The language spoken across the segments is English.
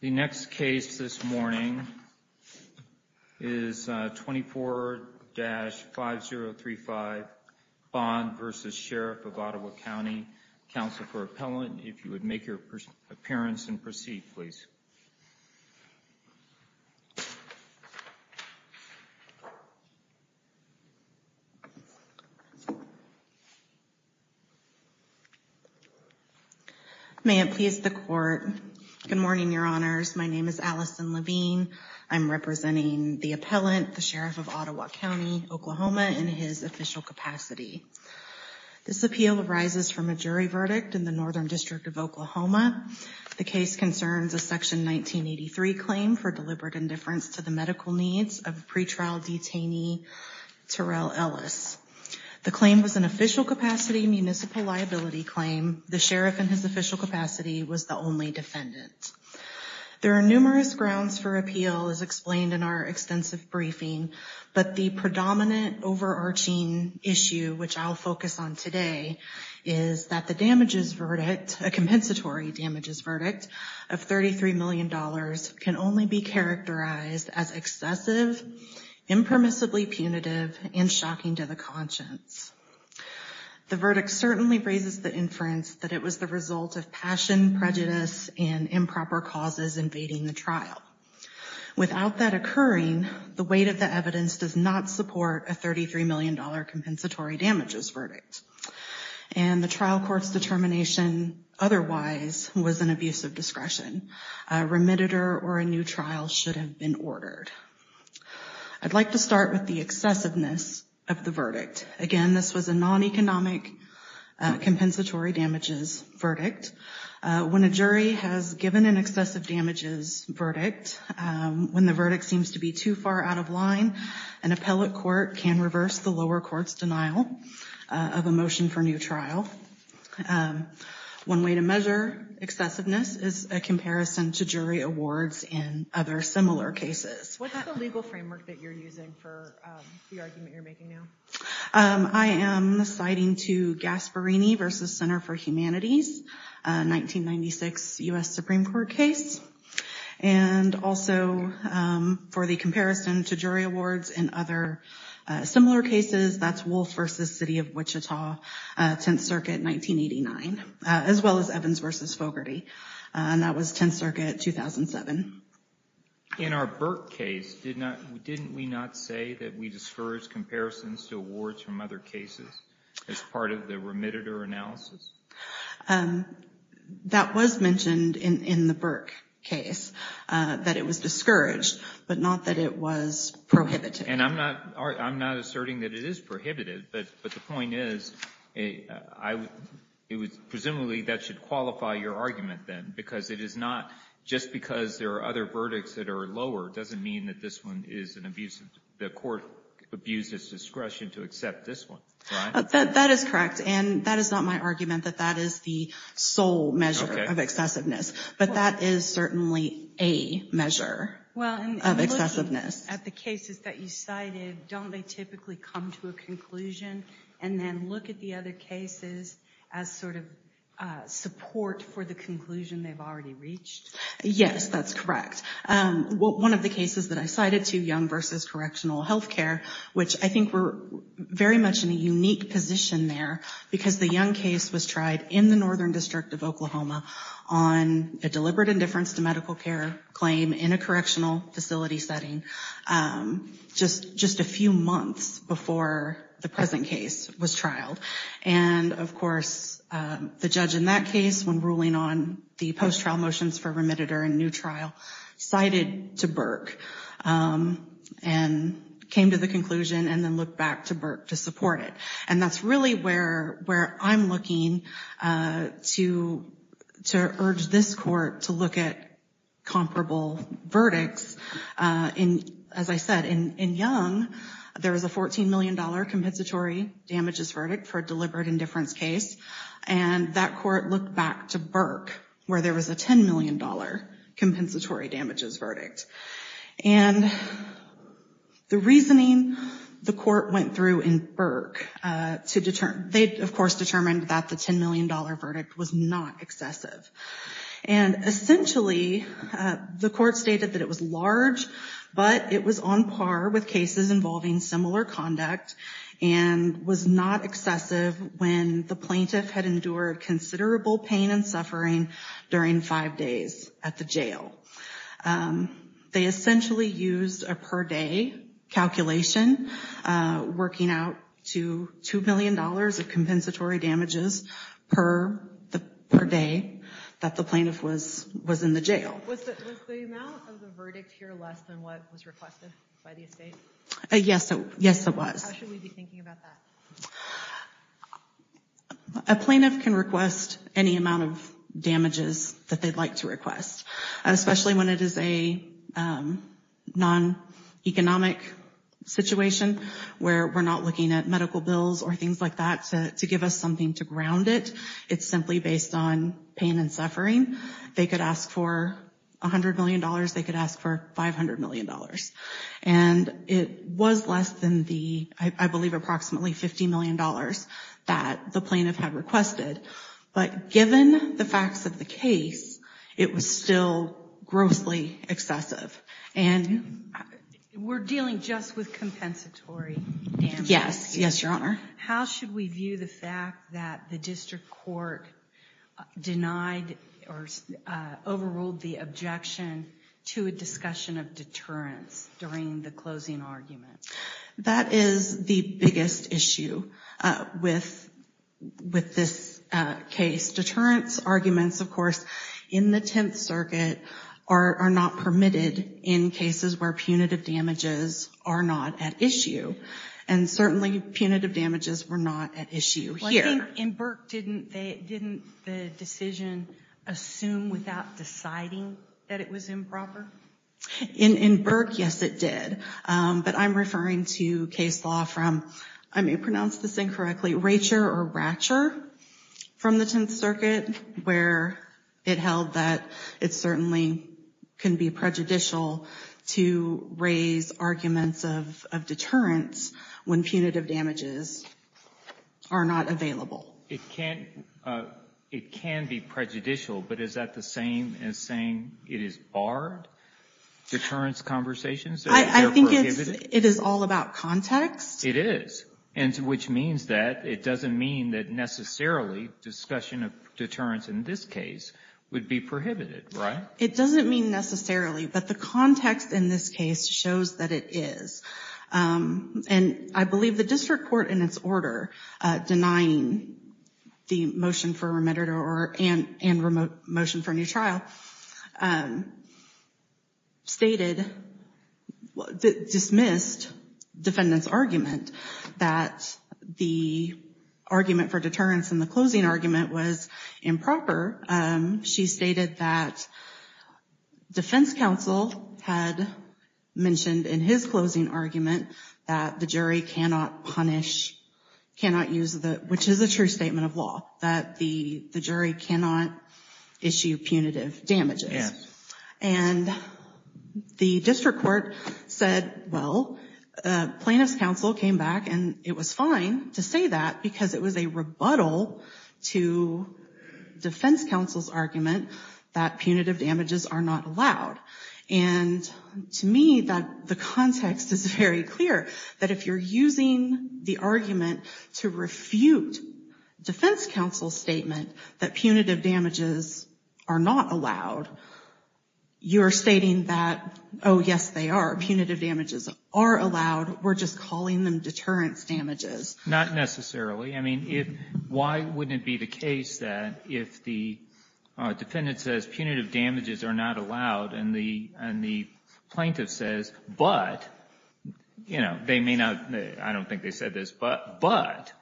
The next case this morning is 24-5035 Bond v. Sheriff of Ottawa County. Counsel for Appellant, if you would make your appearance and proceed, please. May it please the Court. Good morning, Your Honors. My name is Allison Levine. I'm representing the Appellant, the Sheriff of Ottawa County, Oklahoma, in his official capacity. This appeal arises from a jury verdict in the Northern District of Oklahoma. The case concerns a Section 1983 claim for deliberate indifference to the medical needs of pretrial detainee Terrell Ellis. The claim was an official capacity municipal liability claim. The Sheriff, in his official capacity, was the only defendant. There are numerous grounds for appeal, as explained in our extensive briefing, but the predominant overarching issue, which I'll focus on today, is that the compensatory damages verdict of $33 million can only be characterized as excessive, impermissibly punitive, and shocking to the conscience. The verdict certainly raises the inference that it was the result of passion, prejudice, and improper causes invading the trial. Without that occurring, the weight of the evidence does not support a $33 million compensatory damages verdict. And the trial court's determination otherwise was an abuse of discretion. A remediator or a new trial should have been ordered. I'd like to start with the excessiveness of the verdict. Again, this was a non-economic compensatory damages verdict. When a jury has given an excessive damages verdict, when the verdict seems to be too far out of line, an appellate court can reverse the lower court's denial of a motion for new trial. One way to measure excessiveness is a comparison to jury awards in other similar cases. What's the legal framework that you're using for the argument you're making now? I am citing to Gasparini v. Center for Humanities, a 1996 U.S. Supreme Court case. And also for the comparison to jury awards in other similar cases, that's Wolfe v. City of Wichita, 10th Circuit, 1989, as well as Evans v. Fogarty. And that was 10th Circuit, 2007. In our Burke case, didn't we not say that we discourage comparisons to awards from other cases as part of the remediator analysis? That was mentioned in the Burke case, that it was discouraged, but not that it was prohibited. And I'm not asserting that it is prohibited, but the point is, presumably, that should qualify your argument, then. Because it is not just because there are other verdicts that are lower doesn't mean that this one is an abuse. The court abused its discretion to accept this one, right? That is correct. And that is not my argument that that is the sole measure of excessiveness. But that is certainly a measure of excessiveness. At the cases that you cited, don't they typically come to a conclusion and then look at the other cases as sort of support for the conclusion they've already reached? Yes, that's correct. One of the cases that I cited, too, Young v. Correctional Health Care, which I think we're very much in a unique position there, because the Young case was tried in the Northern District of Oklahoma on a deliberate indifference to medical care claim in a correctional facility setting just a few months before the present case was trialed. And, of course, the judge in that case, when ruling on the post-trial motions for remediator and new trial, cited to Burke and came to the conclusion and then looked back to Burke to support it. And that's really where I'm looking to urge this court to look at comparable verdicts. As I said, in Young, there was a $14 million compensatory damages verdict for a deliberate indifference case. And that court looked back to Burke, where there was a $10 million compensatory damages verdict. And the reasoning the court went through in Burke, they, of course, determined that the $10 million verdict was not excessive. And essentially, the court stated that it was large, but it was on par with cases involving similar conduct and was not excessive when the plaintiff had endured considerable pain and suffering during five days at the jail. They essentially used a per day calculation, working out to $2 million of compensatory damages per day that the plaintiff was in the jail. Was the amount of the verdict here less than what was requested by the estate? Yes, it was. How should we be thinking about that? A plaintiff can request any amount of damages that they'd like to request, especially when it is a non-economic situation where we're not looking at medical bills or things like that to give us something to ground it. It's simply based on pain and suffering. They could ask for $100 million. They could ask for $500 million. And it was less than the, I believe, approximately $50 million that the plaintiff had requested. But given the facts of the case, it was still grossly excessive. And we're dealing just with compensatory damages. Yes. Yes, Your Honor. How should we view the fact that the district court denied or overruled the objection to a discussion of deterrence during the closing argument? That is the biggest issue with this case. Deterrence arguments, of course, in the Tenth Circuit are not permitted in cases where punitive damages are not at issue. And certainly punitive damages were not at issue here. In Burke, didn't the decision assume without deciding that it was improper? In Burke, yes, it did. But I'm referring to case law from, I may pronounce this incorrectly, Racher or Ratcher from the Tenth Circuit, where it held that it certainly can be prejudicial to raise arguments of deterrence when punitive damages are not available. It can be prejudicial, but is that the same as saying it is barred, deterrence conversations? I think it is all about context. It is, which means that it doesn't mean that necessarily discussion of deterrence in this case would be prohibited, right? It doesn't mean necessarily, but the context in this case shows that it is. And I believe the district court, in its order denying the motion for remitted and motion for a new trial, stated, dismissed defendant's argument that the argument for deterrence in the closing argument was improper. She stated that defense counsel had mentioned in his closing argument that the jury cannot punish, cannot use the, which is a true statement of law, that the jury cannot issue punitive damages. And the district court said, well, plaintiff's counsel came back and it was fine to say that because it was a rebuttal to defense counsel's argument that punitive damages are not allowed. And to me, the context is very clear, that if you're using the argument to refute defense counsel's statement that punitive damages are not allowed, you're stating that, oh, yes, they are. Punitive damages are allowed. We're just calling them deterrence damages. Not necessarily. I mean, why wouldn't it be the case that if the defendant says punitive damages are not allowed and the plaintiff says, but, you know, they may not, I don't think they said this, but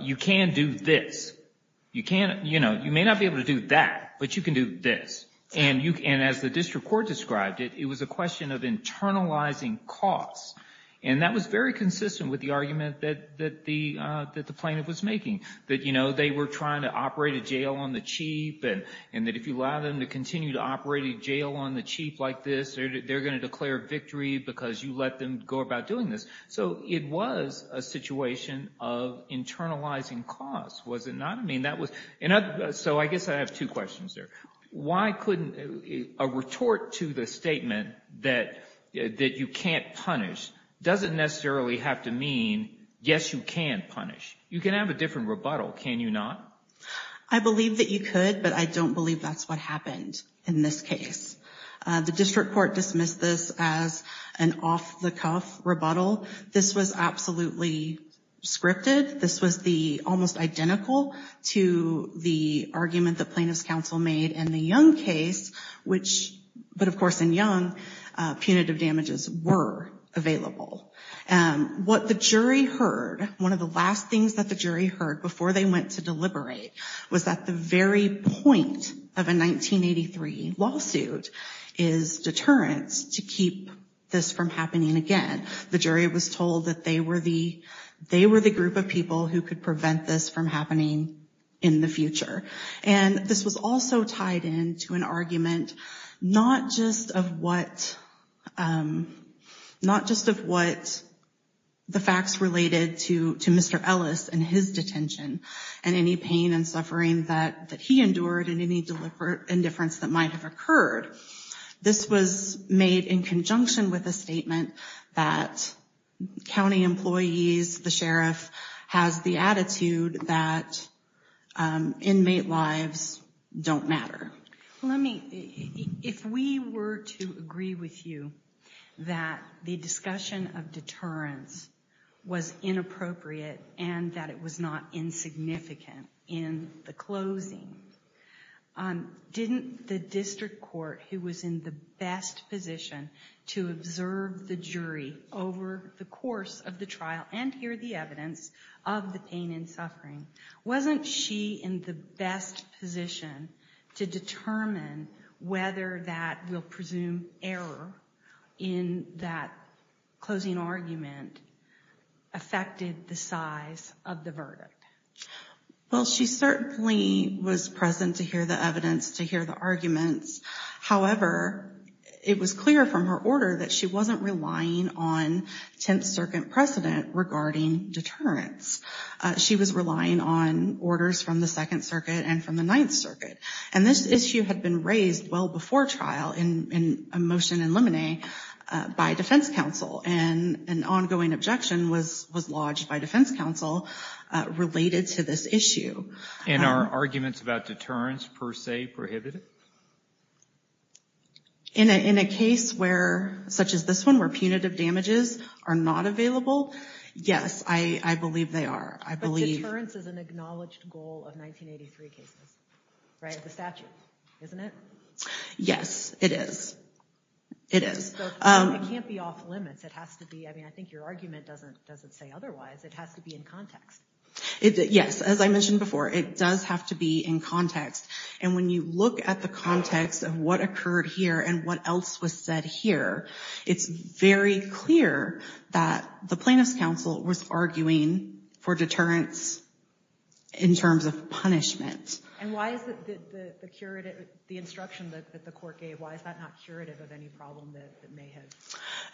you can do this. You may not be able to do that, but you can do this. And as the district court described it, it was a question of internalizing costs. And that was very consistent with the argument that the plaintiff was making, that, you know, they were trying to operate a jail on the chief and that if you allow them to continue to operate a jail on the chief like this, they're going to declare victory because you let them go about doing this. So it was a situation of internalizing costs, was it not? I mean, that was so I guess I have two questions there. Why couldn't a retort to the statement that you can't punish doesn't necessarily have to mean, yes, you can punish. You can have a different rebuttal, can you not? I believe that you could, but I don't believe that's what happened in this case. The district court dismissed this as an off-the-cuff rebuttal. This was absolutely scripted. This was the almost identical to the argument that plaintiff's counsel made in the Young case, which, but of course in Young, punitive damages were available. What the jury heard, one of the last things that the jury heard before they went to deliberate, was that the very point of a 1983 lawsuit is deterrence to keep this from happening again. The jury was told that they were the group of people who could prevent this from happening in the future. And this was also tied in to an argument not just of what the facts related to Mr. Ellis and his detention and any pain and suffering that he endured and any indifference that might have occurred. This was made in conjunction with a statement that county employees, the sheriff, has the attitude that inmate lives don't matter. Let me, if we were to agree with you that the discussion of deterrence was inappropriate and that it was not insignificant in the closing, didn't the district court, who was in the best position to observe the jury over the course of the trial and hear the evidence of the pain and suffering, wasn't she in the best position to determine whether that we'll presume error in that closing argument affected the size of the verdict? Well, she certainly was present to hear the evidence, to hear the arguments. However, it was clear from her order that she wasn't relying on 10th Circuit precedent regarding deterrence. She was relying on orders from the 2nd Circuit and from the 9th Circuit. And this issue had been raised well before trial in a motion in Lemonnet by defense counsel and an ongoing objection was lodged by defense counsel related to this issue. And are arguments about deterrence per se prohibited? In a case where, such as this one, where punitive damages are not available, yes, I believe they are. But deterrence is an acknowledged goal of 1983 cases, right? It's a statute, isn't it? Yes, it is. It is. It can't be off limits. I think your argument doesn't say otherwise. It has to be in context. Yes, as I mentioned before, it does have to be in context. And when you look at the context of what occurred here and what else was said here, it's very clear that the plaintiff's counsel was arguing for deterrence in terms of punishment. And why is it that the instruction that the court gave, why is that not curative of any problem that may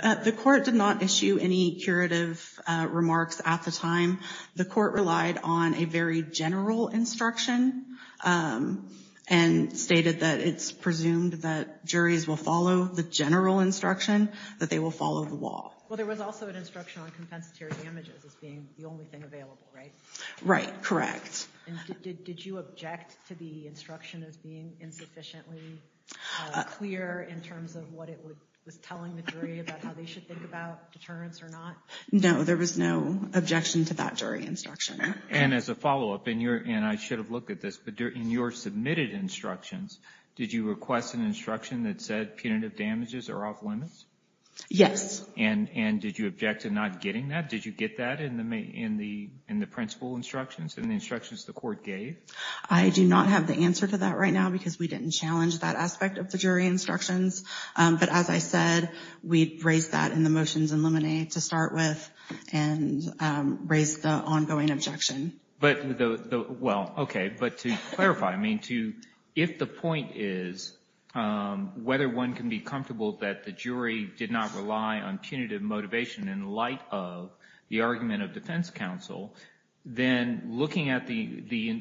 have? The court did not issue any curative remarks at the time. The court relied on a very general instruction and stated that it's presumed that juries will follow the general instruction, that they will follow the law. Well, there was also an instruction on compensatory damages as being the only thing available, right? Right, correct. Did you object to the instruction as being insufficiently clear in terms of what it was telling the jury about how they should think about deterrence or not? No, there was no objection to that jury instruction. And as a follow-up, and I should have looked at this, but in your submitted instructions, did you request an instruction that said punitive damages are off limits? Yes. And did you object to not getting that? Did you get that in the principal instructions, in the instructions the court gave? I do not have the answer to that right now because we didn't challenge that aspect of the jury instructions. But as I said, we raised that in the motions in Lemonnier to start with and raised the ongoing objection. Well, okay. But to clarify, I mean, if the point is whether one can be comfortable that the jury did not rely on punitive motivation in light of the argument of defense counsel, then looking at the,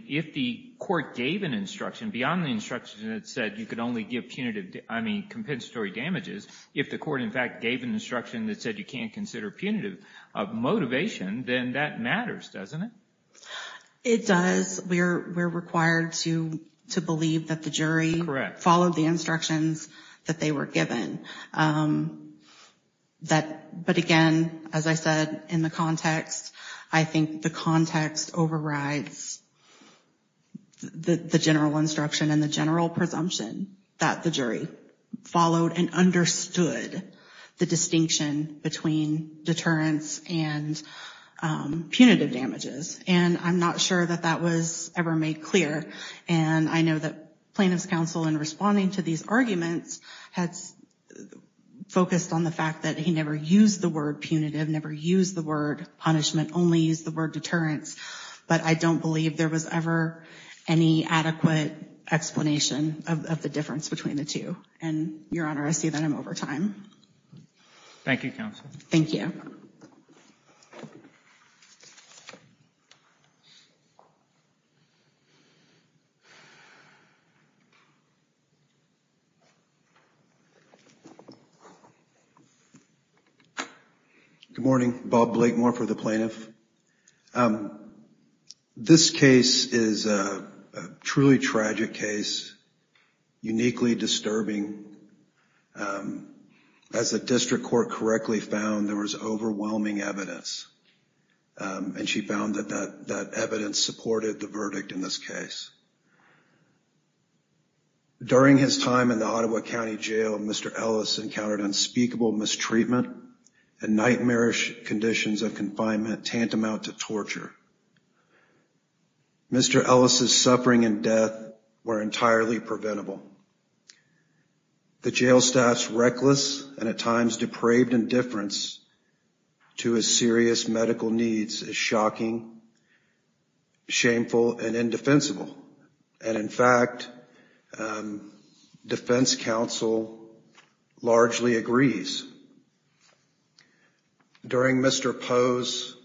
if the court gave an instruction beyond the instruction that said you could only give punitive, I mean compensatory damages, if the court, in fact, gave an instruction that said you can't consider punitive motivation, then that matters, doesn't it? It does. We're required to believe that the jury followed the instructions that they were given. But again, as I said, in the context, I think the context overrides the general instruction and the general presumption that the jury followed and understood the distinction between deterrence and punitive damages. And I'm not sure that that was ever made clear. And I know that plaintiff's counsel, in responding to these arguments, had focused on the fact that he never used the word punitive, never used the word punishment, only used the word deterrence. But I don't believe there was ever any adequate explanation of the difference between the two. And, Your Honor, I see that I'm over time. Thank you, counsel. Thank you. Good morning. Bob Blakemore for the plaintiff. This case is a truly tragic case, uniquely disturbing. As the district court correctly found, there was overwhelming evidence. And she found that that evidence supported the verdict in this case. During his time in the Ottawa County Jail, Mr. Ellis encountered unspeakable mistreatment and nightmarish conditions of confinement tantamount to torture. Mr. Ellis's suffering and death were entirely preventable. The jail staff's reckless and at times depraved indifference to his serious medical needs is shocking, shameful, and indefensible. And, in fact, defense counsel largely agrees. During Mr. Poe's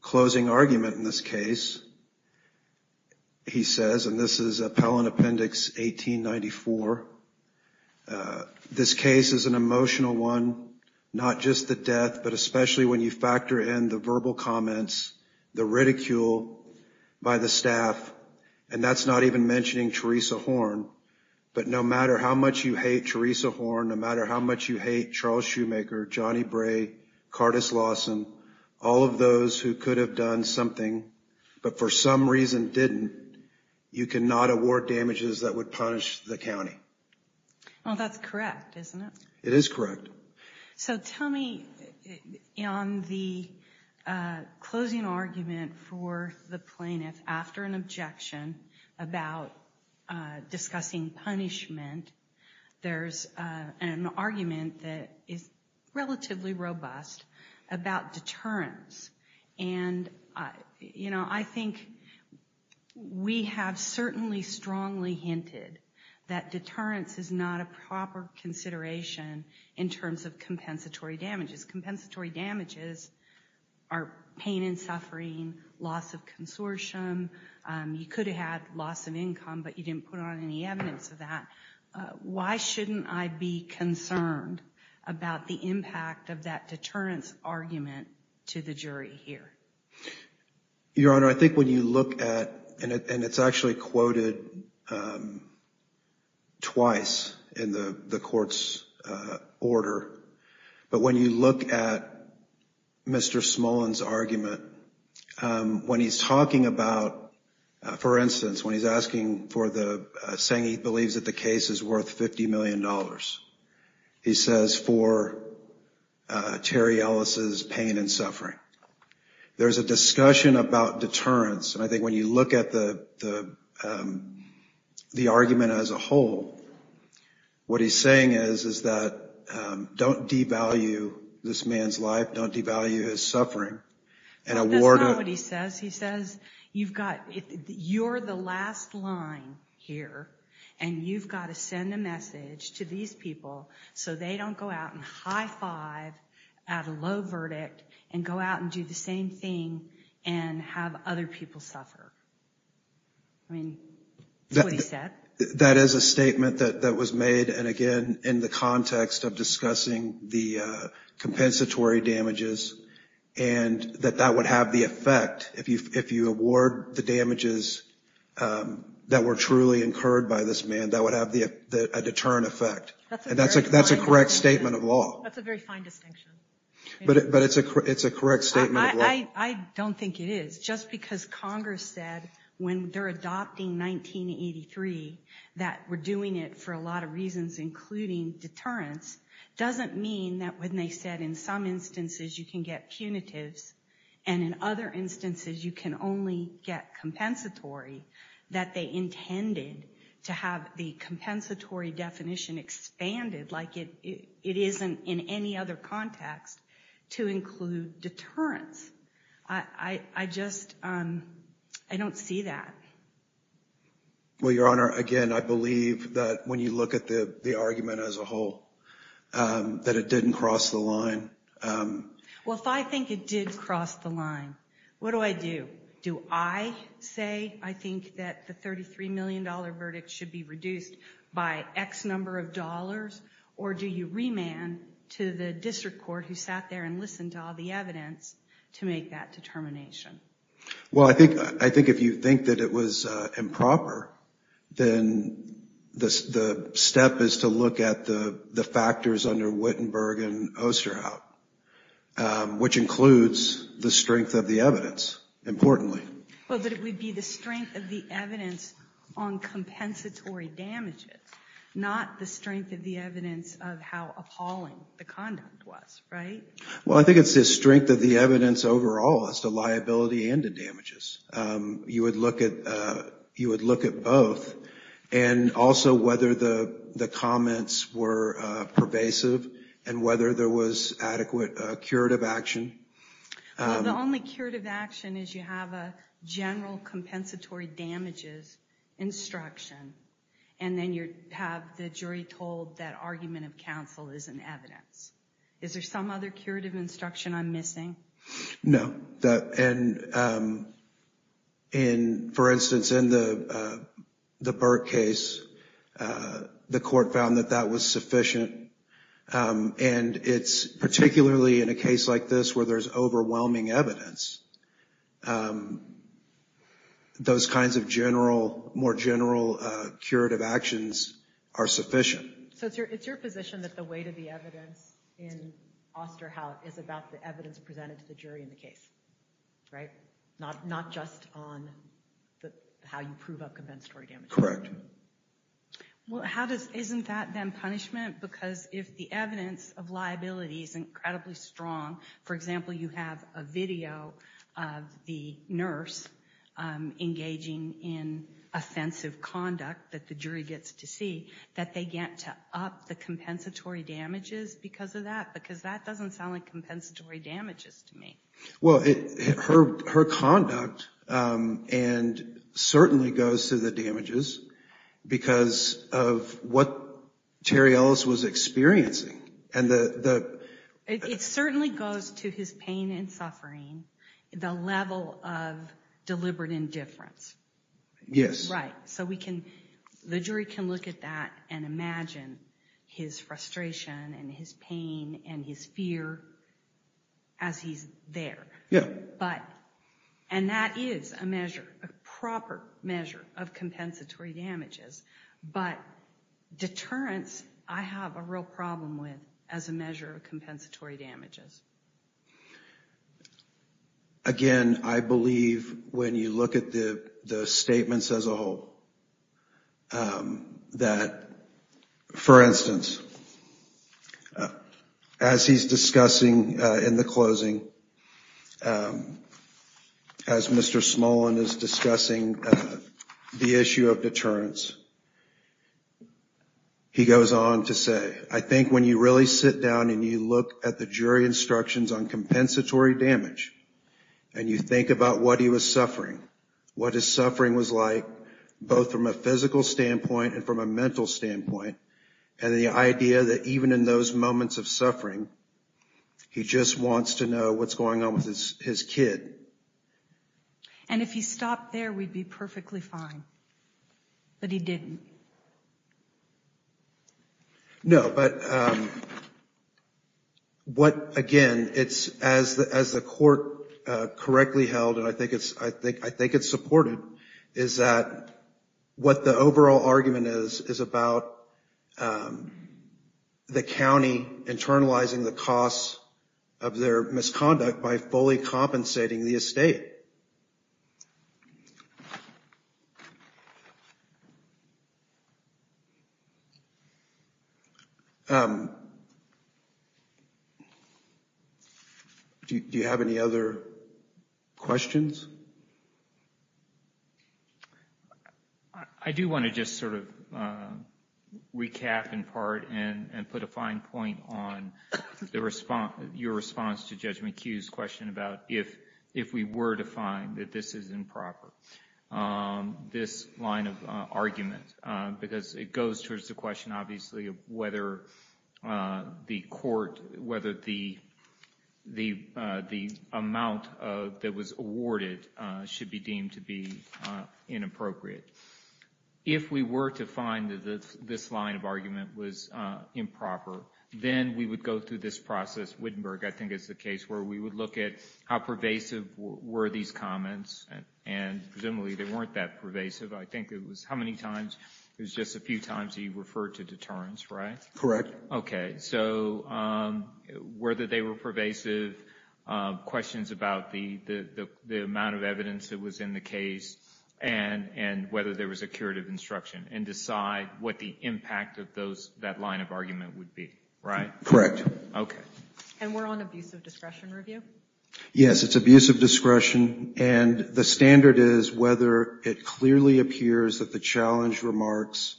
closing argument in this case, he says, and this is Appellant Appendix 1895, this case is an emotional one, not just the death, but especially when you factor in the verbal comments, the ridicule by the staff. And that's not even mentioning Teresa Horn. But no matter how much you hate Teresa Horn, no matter how much you hate Charles Shoemaker, Johnny Bray, Cardis Lawson, all of those who could have done something, but for some reason didn't, you cannot award damages that would punish the county. Well, that's correct, isn't it? It is correct. So tell me, on the closing argument for the plaintiff after an objection about discussing punishment, there's an argument that is relatively robust about deterrence. And I think we have certainly strongly hinted that deterrence is not a proper consideration in terms of compensatory damages. Compensatory damages are pain and suffering, loss of consortium. You could have had loss of income, but you didn't put on any evidence of that. Why shouldn't I be concerned about the impact of that deterrence argument to the jury here? Your Honor, I think when you look at, and it's actually quoted twice in the court's order, but when you look at Mr. Smullin's argument, when he's talking about, for instance, when he's asking for the, saying he believes that the case is worth $50 million, he says, for Terry Ellis' pain and suffering. There's a discussion about deterrence, and I think when you look at the argument as a whole, what he's saying is that don't devalue this man's life, don't devalue his suffering. That's not what he says. He says you've got, you're the last line here, and you've got to send a message to these people so they don't go out and high-five at a low verdict and go out and do the same thing and have other people suffer. That is a statement that was made, and again, in the context of discussing the compensatory damages. And that that would have the effect, if you award the damages that were truly incurred by this man, that would have a deterrent effect. And that's a correct statement of law. That's a very fine distinction. But it's a correct statement of law. I don't think it is. Just because Congress said when they're adopting 1983 that we're doing it for a lot of reasons, including deterrence, doesn't mean that when they said in some instances you can get punitives, and in other instances you can only get compensatory, that they intended to have the compensatory definition expanded like it isn't in any other context to include deterrence. I just, I don't see that. Well, Your Honor, again, I believe that when you look at the argument as a whole, that it didn't cross the line. Well, if I think it did cross the line, what do I do? Do I say I think that the $33 million verdict should be reduced by X number of dollars? Or do you remand to the district court who sat there and listened to all the evidence to make that determination? Well, I think if you think that it was improper, then the step is to look at the factors under Wittenberg and Osterhout, which includes the strength of the evidence, importantly. Well, that it would be the strength of the evidence on compensatory damages, not the strength of the evidence on compensatory damages. Well, I think it's the strength of the evidence overall as to liability and the damages. You would look at both, and also whether the comments were pervasive and whether there was adequate curative action. Well, the only curative action is you have a general compensatory damages instruction, and then you have the jury told that are you going to do that? And then the argument of counsel is an evidence. Is there some other curative instruction I'm missing? No. And for instance, in the Burke case, the court found that that was sufficient. And it's particularly in a case like this where there's overwhelming evidence, those kinds of general, more general curative actions are sufficient. So you're in a position that the weight of the evidence in Osterhout is about the evidence presented to the jury in the case, right? Not just on how you prove a compensatory damage. Correct. Well, isn't that then punishment? Because if the evidence of liability is incredibly strong, for example, you have a video of the nurse engaging in offensive conduct that the jury gets to see, that they get to up the compensatory damages because of that. Because that doesn't sound like compensatory damages to me. Well, her conduct certainly goes to the damages because of what Terry Ellis was experiencing. It certainly goes to his pain and suffering, the level of deliberate indifference. Yes. Right. So the jury can look at that and imagine his frustration and his pain and his fear as he's there. And that is a measure, a proper measure of compensatory damages. But deterrence, I have a real problem with as a measure of compensatory damages. Again, I believe when you look at the statements as a whole, that, for instance, as he's discussing in the closing, as Mr. Smolin is discussing the issue of deterrence, he goes on to say, I think when you really sit down and you look at the jury instructions on compensatory damage and you think about what he was suffering, what his suffering was like, both from a physical standpoint and from a mental standpoint, and the idea that even in those moments of suffering, he just wants to know what's going on with his kid. And if he stopped there, we'd be perfectly fine. But he didn't. No, but what, again, as the court correctly held, and I think it's supported, is that what the overall argument is, is about the county internalizing the cost of their misconduct by fully compensating the estate. Do you have any other questions? I do want to just sort of recap in part and put a fine point on your response to Judge McHugh's question about if we were to find that this is improper, this line of argument. Because it goes towards the question, obviously, of whether the court, whether the amount that was awarded should be deemed to be inappropriate. If we were to find that this line of argument was improper, then we would go through this process. Wittenberg, I think, is the case where we would look at how pervasive were these comments, and presumably they weren't that pervasive. I think it was, how many times, it was just a few times he referred to deterrence, right? Correct. Okay, so whether they were pervasive, questions about the amount of evidence that was in the case, and whether there was a curative instruction, and decide what the impact of that line of argument would be, right? Correct. And we're on abuse of discretion review? Yes, it's abuse of discretion, and the standard is whether it clearly appears that the challenged remarks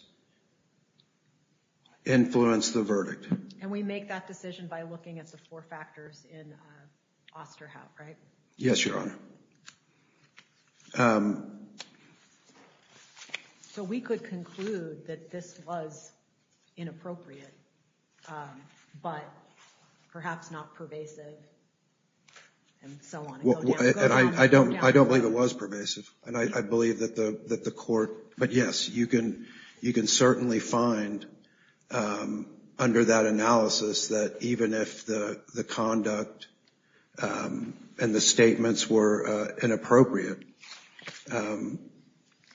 influenced the verdict. And we make that decision by looking at the four factors in Osterhout, right? Yes, Your Honor. So we could conclude that this was inappropriate, but perhaps not pervasive, and so on. And I don't believe it was pervasive, and I believe that the court, but yes, you can certainly find, under that analysis, that even if the conduct and the statements were inappropriate,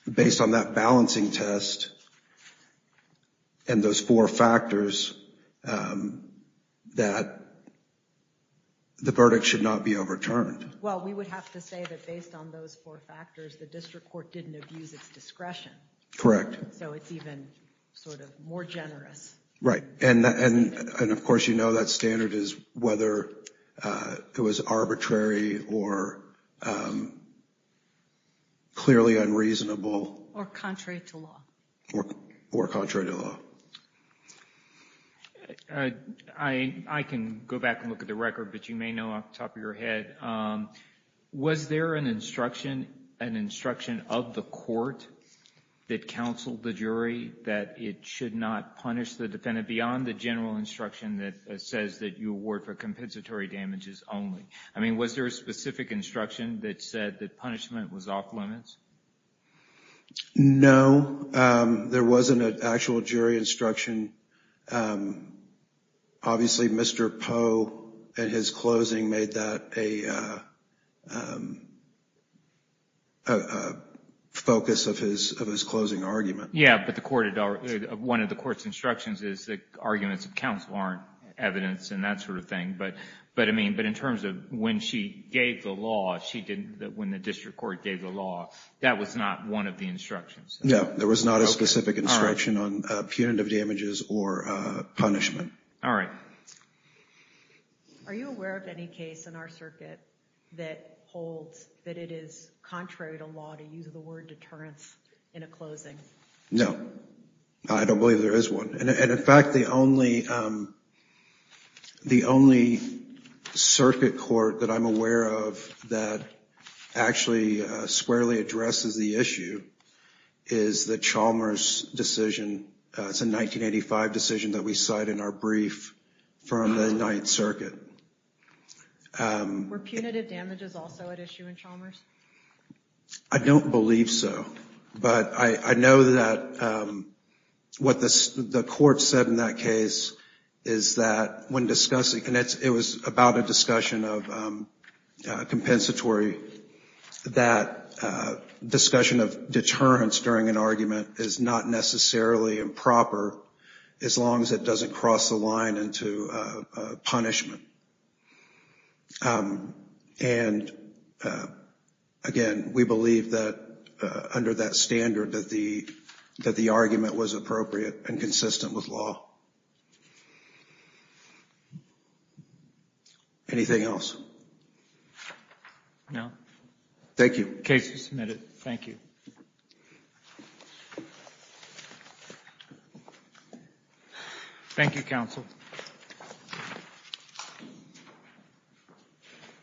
based on that balancing test and those four factors, that the verdict should not be overturned. Well, we would have to say that based on those four factors, the district court didn't abuse its discretion. Correct. So it's even sort of more generous. Right, and of course you know that standard is whether it was arbitrary or clearly unreasonable. Or contrary to law. Or contrary to law. I can go back and look at the record, but you may know off the top of your head. Was there an instruction, an instruction of the court that counseled the jury that it should not punish the defendant beyond the general instruction that says that you award for compensatory damages only? I mean, was there a specific instruction that said that punishment was off limits? No, there wasn't an actual jury instruction. Obviously, Mr. Poe, in his closing, made that a focus of his closing argument. Yeah, but one of the court's instructions is that arguments of counsel aren't evidence and that sort of thing. But in terms of when she gave the law, when the district court gave the law, that was not one of the instructions. No, there was not a specific instruction on punitive damages or punishment. Are you aware of any case in our circuit that holds that it is contrary to law to use the word deterrence in a closing? No, I don't believe there is one. The only circuit court that I'm aware of that actually squarely addresses the issue is the Chalmers decision. It's a 1985 decision that we cite in our brief from the Ninth Circuit. Were punitive damages also at issue in Chalmers? I don't believe so. But I know that what the court said in that case is that when discussing, and it was about a discussion of compensatory, that discussion of deterrence during an argument is not necessarily improper as long as it doesn't cross the line into punishment. And, again, we believe that under that standard that the argument was appropriate and consistent with law. Anything else? No. Thank you. Case is submitted. Thank you. Thank you, counsel.